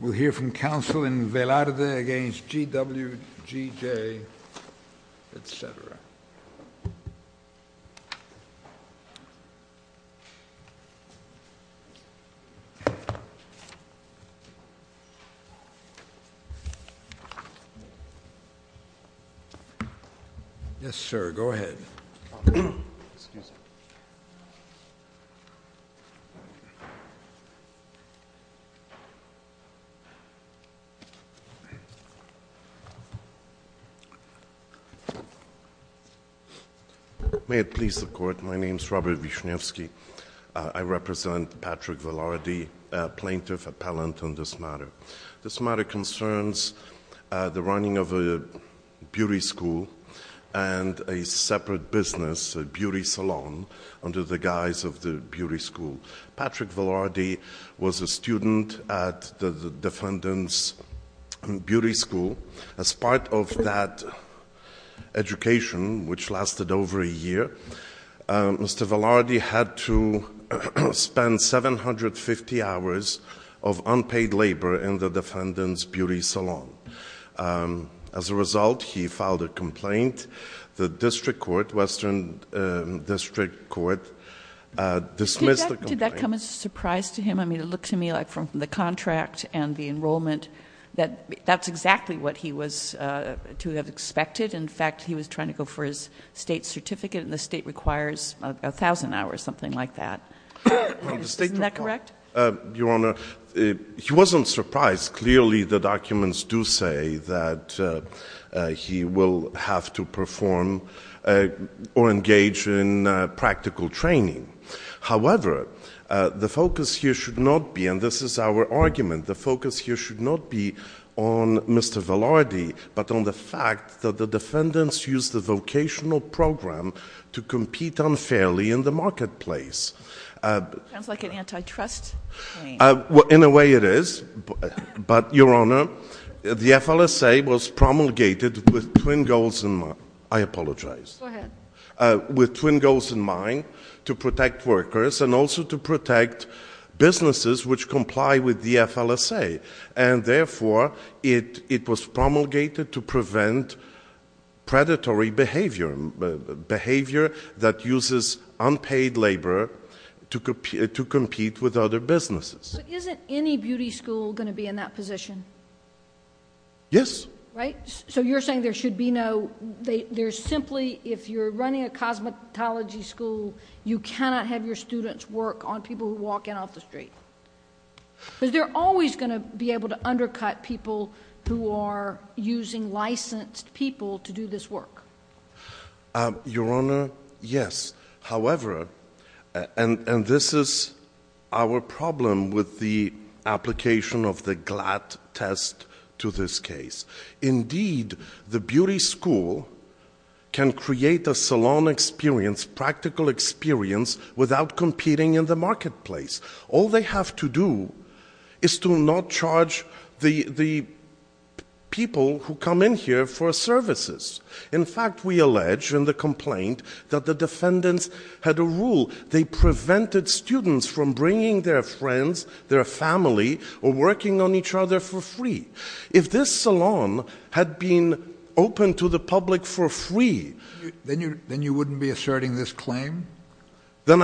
We'll hear from counsel in Velarde v. GW GJ, etc. Yes, sir, go ahead. May it please the Court, my name is Robert Vishnevsky. I represent Patrick Velarde, plaintiff-appellant on this matter. This matter concerns the running of a beauty school and a separate business, a beauty salon, under the guise of the beauty school. Patrick Velarde was a student at the defendant's beauty school. As part of that education, which lasted over a year, Mr. Velarde had to spend 750 hours of unpaid labor in the defendant's beauty salon. As a result, he filed a complaint. The district court, Western District Court, dismissed the complaint. Did that come as a surprise to him? I mean, it looked to me like from the contract and the enrollment that that's exactly what he was to have expected. In fact, he was trying to go for his state certificate, and the state requires 1,000 hours, something like that. Isn't that correct? Your Honor, he wasn't surprised. Clearly, the documents do say that he will have to perform or engage in practical training. However, the focus here should not be, and this is our argument, the focus here should not be on Mr. Velarde, but on the fact that the defendants used the vocational program to compete unfairly in the marketplace. Sounds like an antitrust claim. In a way it is, but, Your Honor, the FLSA was promulgated with twin goals in mind. I apologize. Go ahead. With twin goals in mind to protect workers and also to protect businesses which comply with the FLSA, and therefore it was promulgated to prevent predatory behavior, behavior that uses unpaid labor to compete with other businesses. But isn't any beauty school going to be in that position? Yes. Right? So you're saying there should be no, there's simply, if you're running a cosmetology school, you cannot have your students work on people who walk in off the street. Because they're always going to be able to undercut people who are using licensed people to do this work. Your Honor, yes. However, and this is our problem with the application of the GLAT test to this case. Indeed, the beauty school can create a salon experience, practical experience, without competing in the marketplace. All they have to do is to not charge the people who come in here for services. In fact, we allege in the complaint that the defendants had a rule. They prevented students from bringing their friends, their family, or working on each other for free. If this salon had been open to the public for free. Then I wouldn't be asserting this claim. But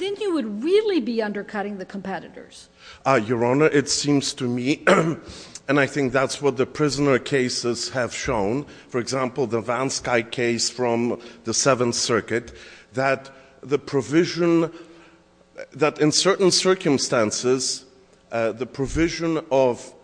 then you would really be undercutting the competitors. Your Honor, it seems to me, and I think that's what the prisoner cases have shown. For example, the Vansky case from the Seventh Circuit. That the provision, that in certain circumstances, the provision of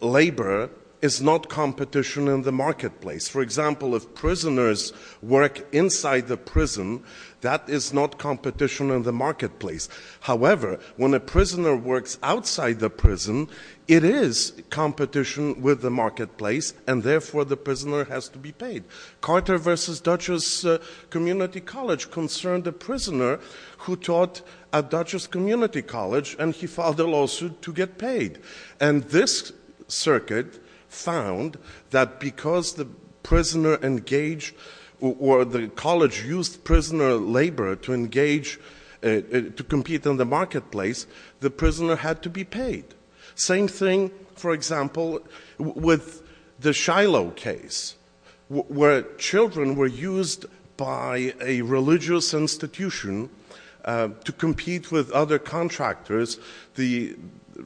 labor is not competition in the marketplace. For example, if prisoners work inside the prison, that is not competition in the marketplace. However, when a prisoner works outside the prison, it is competition with the marketplace. And therefore, the prisoner has to be paid. Carter v. Dutchess Community College concerned a prisoner who taught at Dutchess Community College. And he filed a lawsuit to get paid. And this circuit found that because the prisoner engaged, or the college used prisoner labor to engage, to compete in the marketplace. The prisoner had to be paid. Same thing, for example, with the Shiloh case. Where children were used by a religious institution to compete with other contractors. The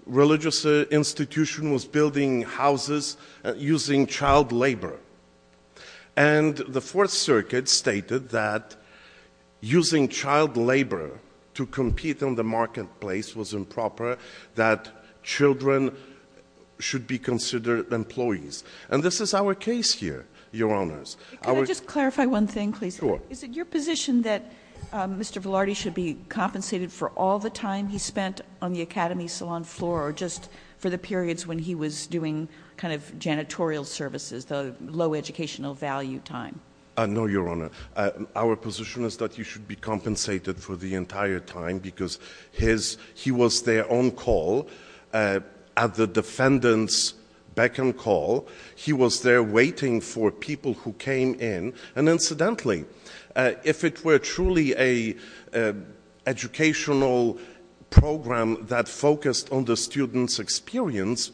religious institution was building houses using child labor. And the Fourth Circuit stated that using child labor to compete in the marketplace was improper. That children should be considered employees. And this is our case here, Your Honors. Could I just clarify one thing, please? Sure. Is it your position that Mr. Velarde should be compensated for all the time he spent on the academy salon floor? Or just for the periods when he was doing kind of janitorial services, the low educational value time? No, Your Honor. Our position is that he should be compensated for the entire time. Because he was there on call, at the defendant's beck and call. He was there waiting for people who came in. And incidentally, if it were truly an educational program that focused on the student's experience,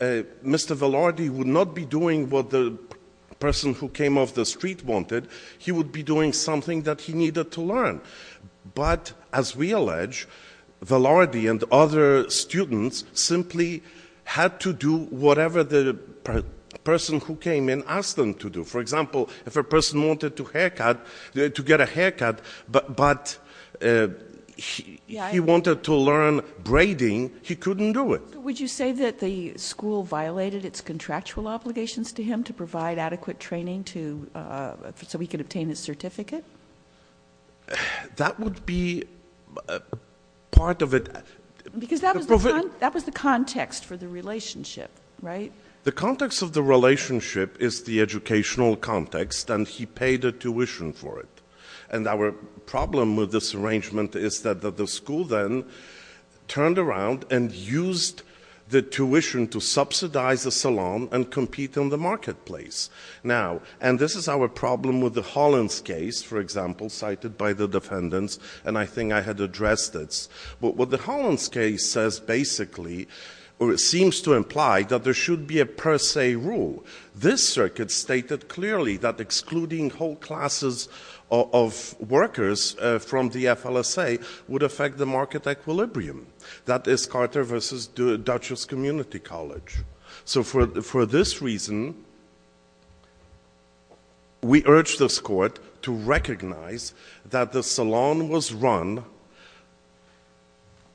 Mr. Velarde would not be doing what the person who came off the street wanted. He would be doing something that he needed to learn. But, as we allege, Velarde and other students simply had to do whatever the person who came in asked them to do. For example, if a person wanted to get a haircut, but he wanted to learn braiding, he couldn't do it. Would you say that the school violated its contractual obligations to him to provide adequate training so he could obtain his certificate? That would be part of it. Because that was the context for the relationship, right? The context of the relationship is the educational context, and he paid a tuition for it. And our problem with this arrangement is that the school then turned around and used the tuition to subsidize the salon and compete in the marketplace. Now, and this is our problem with the Hollins case, for example, cited by the defendants, and I think I had addressed this. But what the Hollins case says basically, or it seems to imply, that there should be a per se rule. This circuit stated clearly that excluding whole classes of workers from the FLSA would affect the market equilibrium. That is Carter v. Dutchess Community College. So for this reason, we urge this court to recognize that the salon was run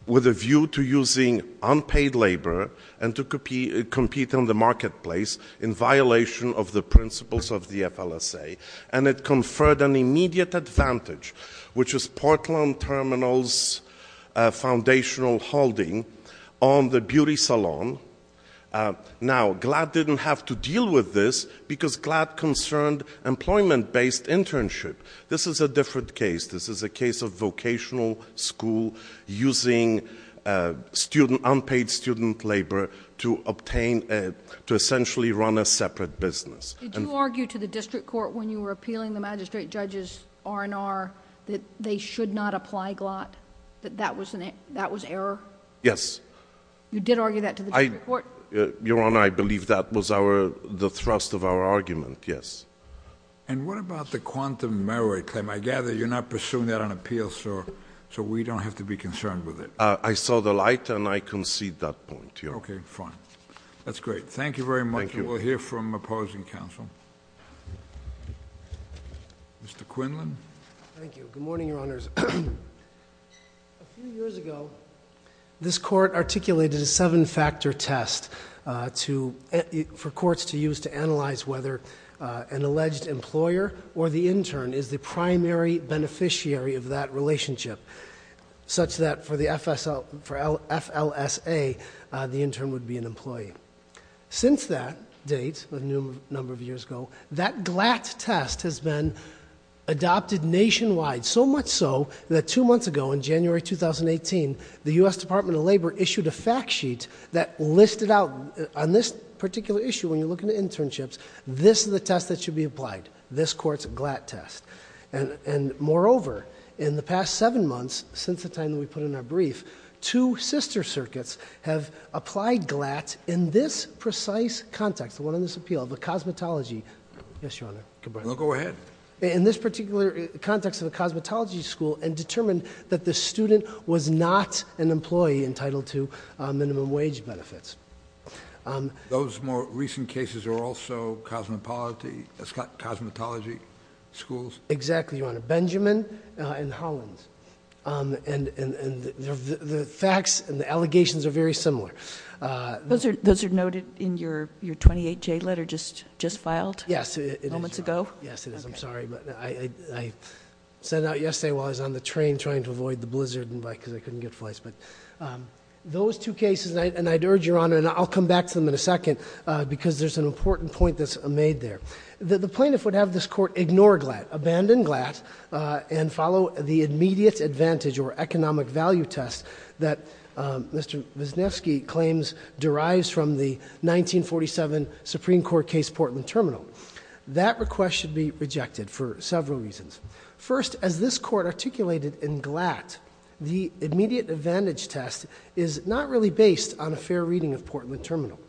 with a view to using unpaid labor and to compete in the marketplace in violation of the principles of the FLSA. And it conferred an immediate advantage, which was Portland Terminal's foundational holding on the beauty salon. Now, GLAD didn't have to deal with this because GLAD concerned employment-based internship. This is a different case. This is a case of vocational school using unpaid student labor to obtain, to essentially run a separate business. Did you argue to the district court when you were appealing the magistrate judge's R&R that they should not apply GLAD? That that was error? Yes. You did argue that to the district court? Your Honor, I believe that was the thrust of our argument, yes. And what about the quantum merit claim? I gather you're not pursuing that on appeal, so we don't have to be concerned with it. I saw the light, and I concede that point, Your Honor. Okay, fine. That's great. Thank you very much. Thank you. We'll hear from opposing counsel. Mr. Quinlan. Thank you. Good morning, Your Honors. A few years ago, this court articulated a seven-factor test for courts to use to analyze whether an alleged employer or the intern is the primary beneficiary of that relationship, Since that date, a number of years ago, that GLAD test has been adopted nationwide, so much so that two months ago, in January 2018, the U.S. Department of Labor issued a fact sheet that listed out, on this particular issue, when you're looking at internships, this is the test that should be applied. This court's GLAD test. Moreover, in the past seven months, since the time that we put in our brief, two sister circuits have applied GLAD in this precise context, the one on this appeal, the cosmetology. Yes, Your Honor. Go ahead. In this particular context of a cosmetology school, and determined that the student was not an employee entitled to minimum wage benefits. Those more recent cases are also cosmetology schools? Exactly, Your Honor. Benjamin and Hollins. The facts and the allegations are very similar. Those are noted in your 28-J letter just filed moments ago? Yes, it is. I'm sorry, but I sent out yesterday while I was on the train trying to avoid the blizzard because I couldn't get flights. Those two cases, and I'd urge, Your Honor, and I'll come back to them in a second because there's an important point that's made there. The plaintiff would have this court ignore GLAD, abandon GLAD, and follow the immediate advantage or economic value test that Mr. Wisniewski claims derives from the 1947 Supreme Court case Portland Terminal. That request should be rejected for several reasons. First, as this court articulated in GLAD, the immediate advantage test is not really based on a fair reading of Portland Terminal.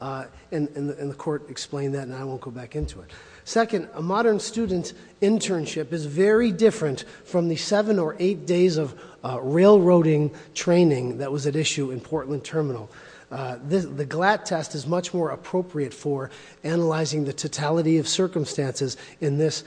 And the court explained that, and I won't go back into it. Second, a modern student's internship is very different from the seven or eight days of railroading training that was at issue in Portland Terminal. The GLAD test is much more appropriate for analyzing the totality of circumstances in this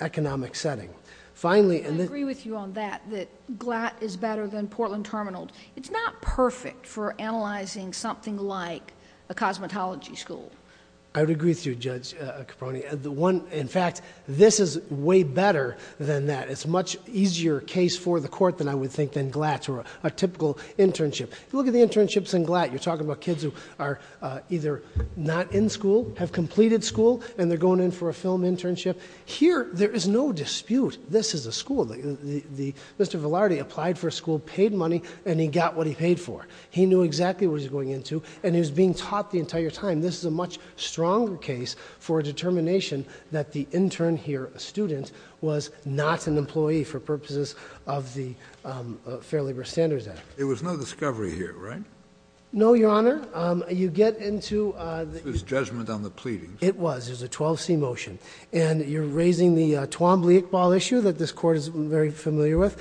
economic setting. Finally- I agree with you on that, that GLAD is better than Portland Terminal. It's not perfect for analyzing something like a cosmetology school. I would agree with you, Judge Caproni. In fact, this is way better than that. It's a much easier case for the court than I would think than GLAD or a typical internship. Look at the internships in GLAD. You're talking about kids who are either not in school, have completed school, and they're going in for a film internship. Here, there is no dispute. This is a school. Mr. Velarde applied for a school, paid money, and he got what he paid for. He knew exactly what he was going into, and he was being taught the entire time. This is a much stronger case for a determination that the intern here, a student, was not an employee for purposes of the Fair Labor Standards Act. It was no discovery here, right? No, Your Honor. You get into- This was judgment on the pleadings. It was. It was a 12C motion, and you're raising the Twombly-Iqbal issue that this court is very familiar with.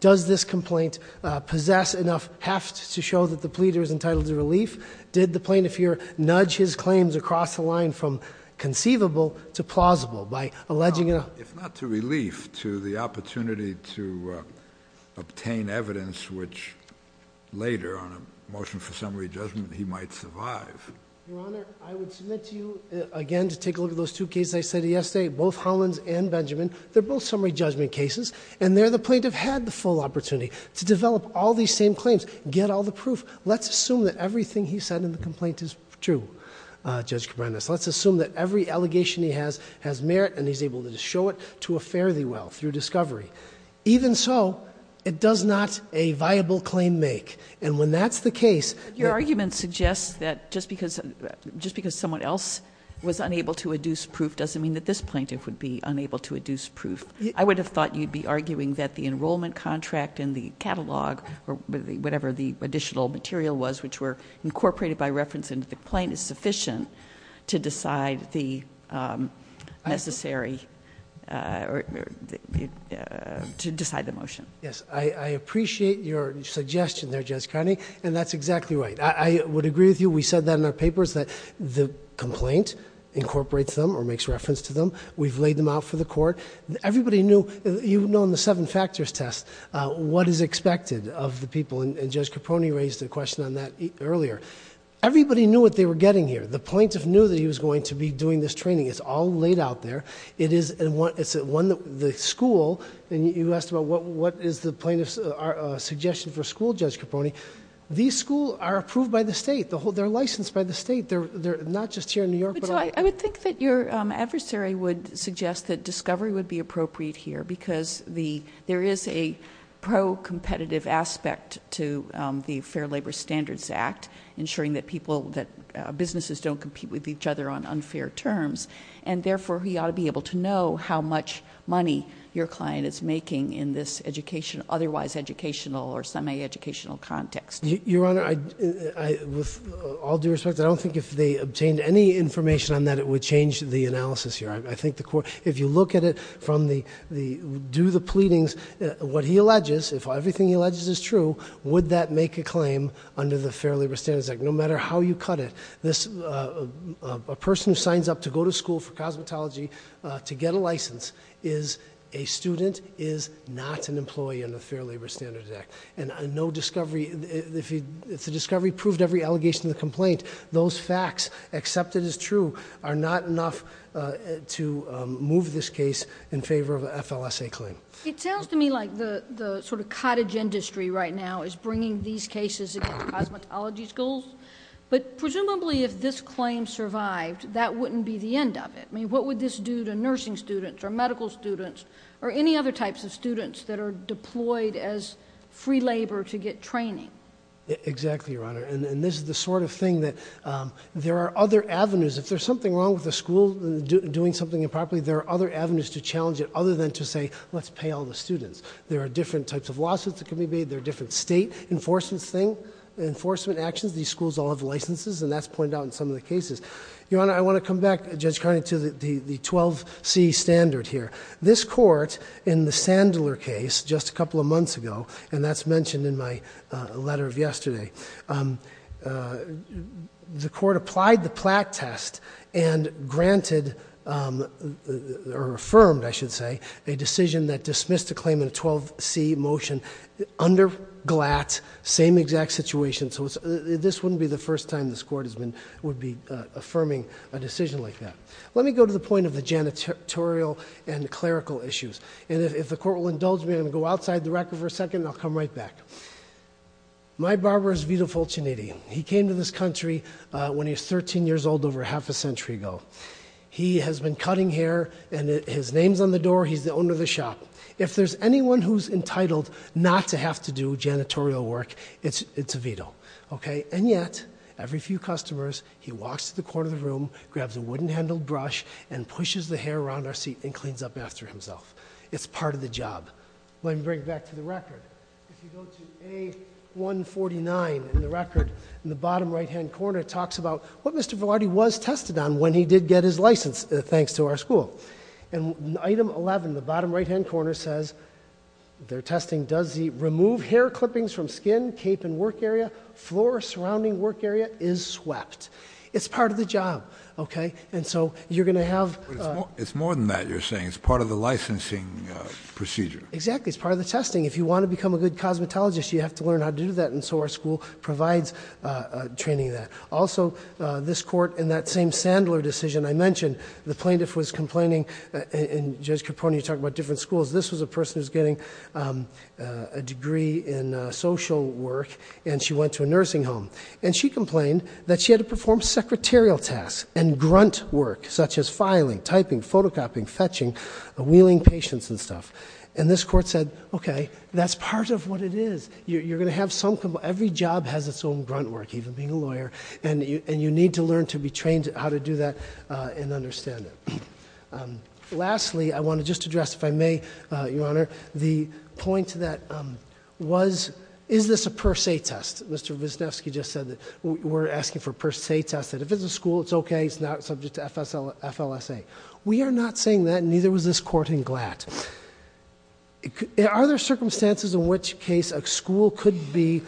Does this complaint possess enough heft to show that the pleader is entitled to relief? Did the plaintiff here nudge his claims across the line from conceivable to plausible by alleging- If not to relief, to the opportunity to obtain evidence which later, on a motion for summary judgment, he might survive. Your Honor, I would submit to you, again, to take a look at those two cases I said yesterday, both Hollins and Benjamin. They're both summary judgment cases, and there, the plaintiff had the full opportunity to develop all these same claims, get all the proof. Let's assume that everything he said in the complaint is true, Judge Cabranes. Let's assume that every allegation he has has merit, and he's able to show it to a fare-thee-well through discovery. Even so, it does not a viable claim make, and when that's the case- Your argument suggests that just because someone else was unable to adduce proof doesn't mean that this plaintiff would be unable to adduce proof. I would have thought you'd be arguing that the enrollment contract in the catalog, or whatever the additional material was, which were incorporated by reference into the complaint, is sufficient to decide the necessary... to decide the motion. Yes, I appreciate your suggestion there, Judge Carney, and that's exactly right. I would agree with you. We said that in our papers, that the complaint incorporates them or makes reference to them. We've laid them out for the court. Everybody knew... you've known the seven factors test. What is expected of the people, and Judge Caproni raised a question on that earlier. Everybody knew what they were getting here. The plaintiff knew that he was going to be doing this training. It's all laid out there. It's one that the school... You asked about what is the plaintiff's suggestion for school, Judge Caproni. These schools are approved by the state. They're licensed by the state. They're not just here in New York, but... I would think that your adversary would suggest that discovery would be appropriate here, because there is a pro-competitive aspect to the Fair Labor Standards Act, ensuring that people... that businesses don't compete with each other on unfair terms. And, therefore, we ought to be able to know how much money your client is making in this education... otherwise educational or semi-educational context. Your Honor, with all due respect, I don't think if they obtained any information on that, it would change the analysis here. I think the court... If you look at it from the... Do the pleadings. What he alleges... If everything he alleges is true, would that make a claim under the Fair Labor Standards Act? No matter how you cut it, this... A person who signs up to go to school for cosmetology to get a license is a student, And, no discovery... If the discovery proved every allegation in the complaint, those facts, except it is true, are not enough to move this case in favor of an FLSA claim. It sounds to me like the sort of cottage industry right now is bringing these cases against cosmetology schools. But, presumably, if this claim survived, that wouldn't be the end of it. I mean, what would this do to nursing students, or medical students, or any other types of students that are deployed as free labor to get training? Exactly, Your Honor. And, this is the sort of thing that... There are other avenues. If there's something wrong with the school, doing something improperly, there are other avenues to challenge it, other than to say, let's pay all the students. There are different types of lawsuits that can be made. There are different state enforcement actions. These schools all have licenses, and that's pointed out in some of the cases. Your Honor, I want to come back, Judge Carney, to the 12C standard here. This court, in the Sandler case, just a couple of months ago, and that's mentioned in my letter of yesterday, the court applied the Platt test and granted, or affirmed, I should say, a decision that dismissed a claim in a 12C motion under GLAT, same exact situation. So, this wouldn't be the first time this court would be affirming a decision like that. Let me go to the point of the janitorial and clerical issues, and if the court will indulge me, I'm going to go outside the record for a second, and I'll come right back. My barber is Vito Fortuniti. He came to this country when he was 13 years old, over half a century ago. He has been cutting hair, and his name's on the door. He's the owner of the shop. If there's anyone who's entitled not to have to do janitorial work, it's Vito. And yet, every few customers, he walks to the corner of the room, grabs a wooden-handled brush, and pushes the hair around our seat and cleans up after himself. It's part of the job. Let me bring it back to the record. If you go to A149 in the record, in the bottom right-hand corner, it talks about what Mr. Velarde was tested on when he did get his license, thanks to our school. In item 11, the bottom right-hand corner says, they're testing, does he remove hair clippings from skin, cape, and work area? Floor surrounding work area is swept. It's part of the job, okay? And so, you're going to have- It's more than that, you're saying. It's part of the licensing procedure. Exactly. It's part of the testing. If you want to become a good cosmetologist, you have to learn how to do that, and so our school provides training in that. Also, this court, in that same Sandler decision I mentioned, the plaintiff was complaining, and Judge Capone, you talk about different schools, this was a person who was getting a degree in social work, and she went to a nursing home. And she complained that she had to perform secretarial tasks and grunt work, such as filing, typing, photocopying, fetching, wheeling patients and stuff. And this court said, okay, that's part of what it is. You're going to have some- Every job has its own grunt work, even being a lawyer, and you need to learn to be trained how to do that and understand it. Lastly, I want to just address, if I may, Your Honor, the point that was, is this a per se test? Mr. Wisniewski just said that we're asking for a per se test, that if it's a school, it's okay, it's not subject to FLSA. We are not saying that, neither was this court in Glatt. Are there circumstances in which case a school could be,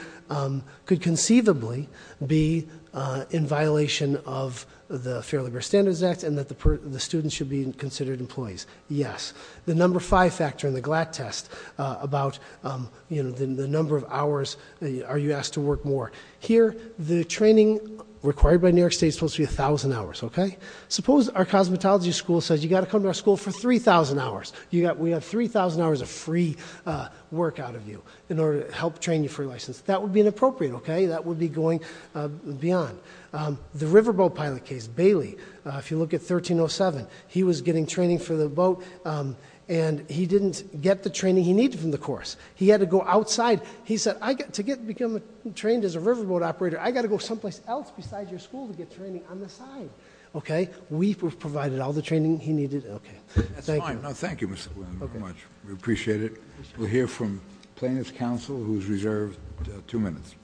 could conceivably be in violation of the Fair Labor Standards Act, and that the students should be considered employees? Yes. The number five factor in the Glatt test about the number of hours, are you asked to work more? Here, the training required by New York State is supposed to be 1,000 hours, okay? Suppose our cosmetology school says, you've got to come to our school for 3,000 hours. We have 3,000 hours of free work out of you in order to help train you for your license. That would be inappropriate, okay? That would be going beyond. The riverboat pilot case, Bailey, if you look at 1307, he was getting training for the boat, and he didn't get the training he needed from the course. He had to go outside. He said, to become trained as a riverboat operator, I've got to go someplace else besides your school to get training on the side, okay? We provided all the training he needed, okay. That's fine. Thank you, Mr. Wisniewski, very much. We appreciate it. We'll hear from plaintiff's counsel, who's reserved two minutes.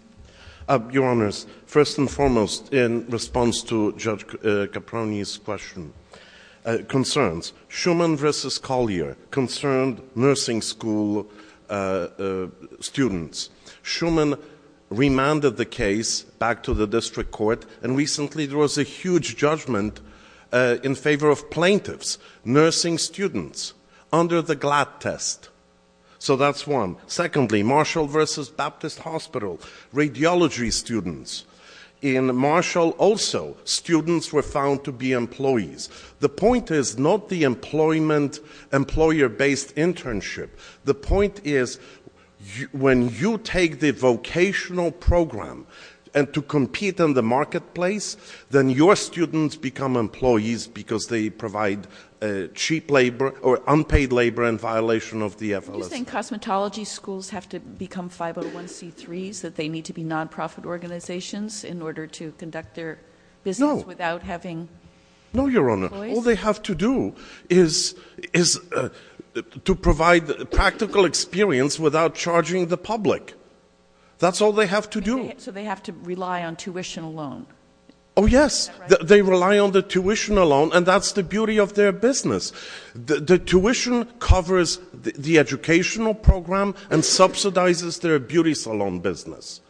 Your Honors, first and foremost, in response to Judge Caproni's question, concerns. Schumann v. Collier concerned nursing school students. Schumann remanded the case back to the district court, and recently there was a huge judgment in favor of plaintiffs, nursing students, under the GLAD test. So that's one. Secondly, Marshall v. Baptist Hospital, radiology students. In Marshall, also, students were found to be employees. The point is not the employment, employer-based internship. The point is, when you take the vocational program and to compete in the marketplace, then your students become employees because they provide cheap labor or unpaid labor in violation of the FLSA. Do you think cosmetology schools have to become 501c3s, that they need to be nonprofit organizations in order to conduct their business without having employees? No, Your Honor. All they have to do is to provide practical experience without charging the public. That's all they have to do. So they have to rely on tuition alone. Oh, yes. They rely on the tuition alone, and that's the beauty of their business. The tuition covers the educational program and subsidizes their beauty salon business.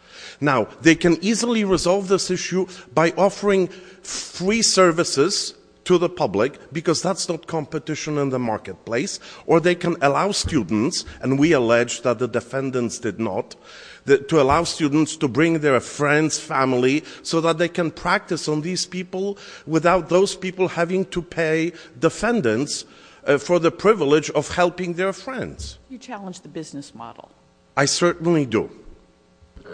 Now, they can easily resolve this issue by offering free services to the public because that's not competition in the marketplace, or they can allow students, and we allege that the defendants did not, to allow students to bring their friends, family, so that they can practice on these people without those people having to pay defendants for the privilege of helping their friends. You challenge the business model. I certainly do.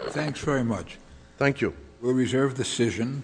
Thanks very much. Thank you. We'll reserve the decision.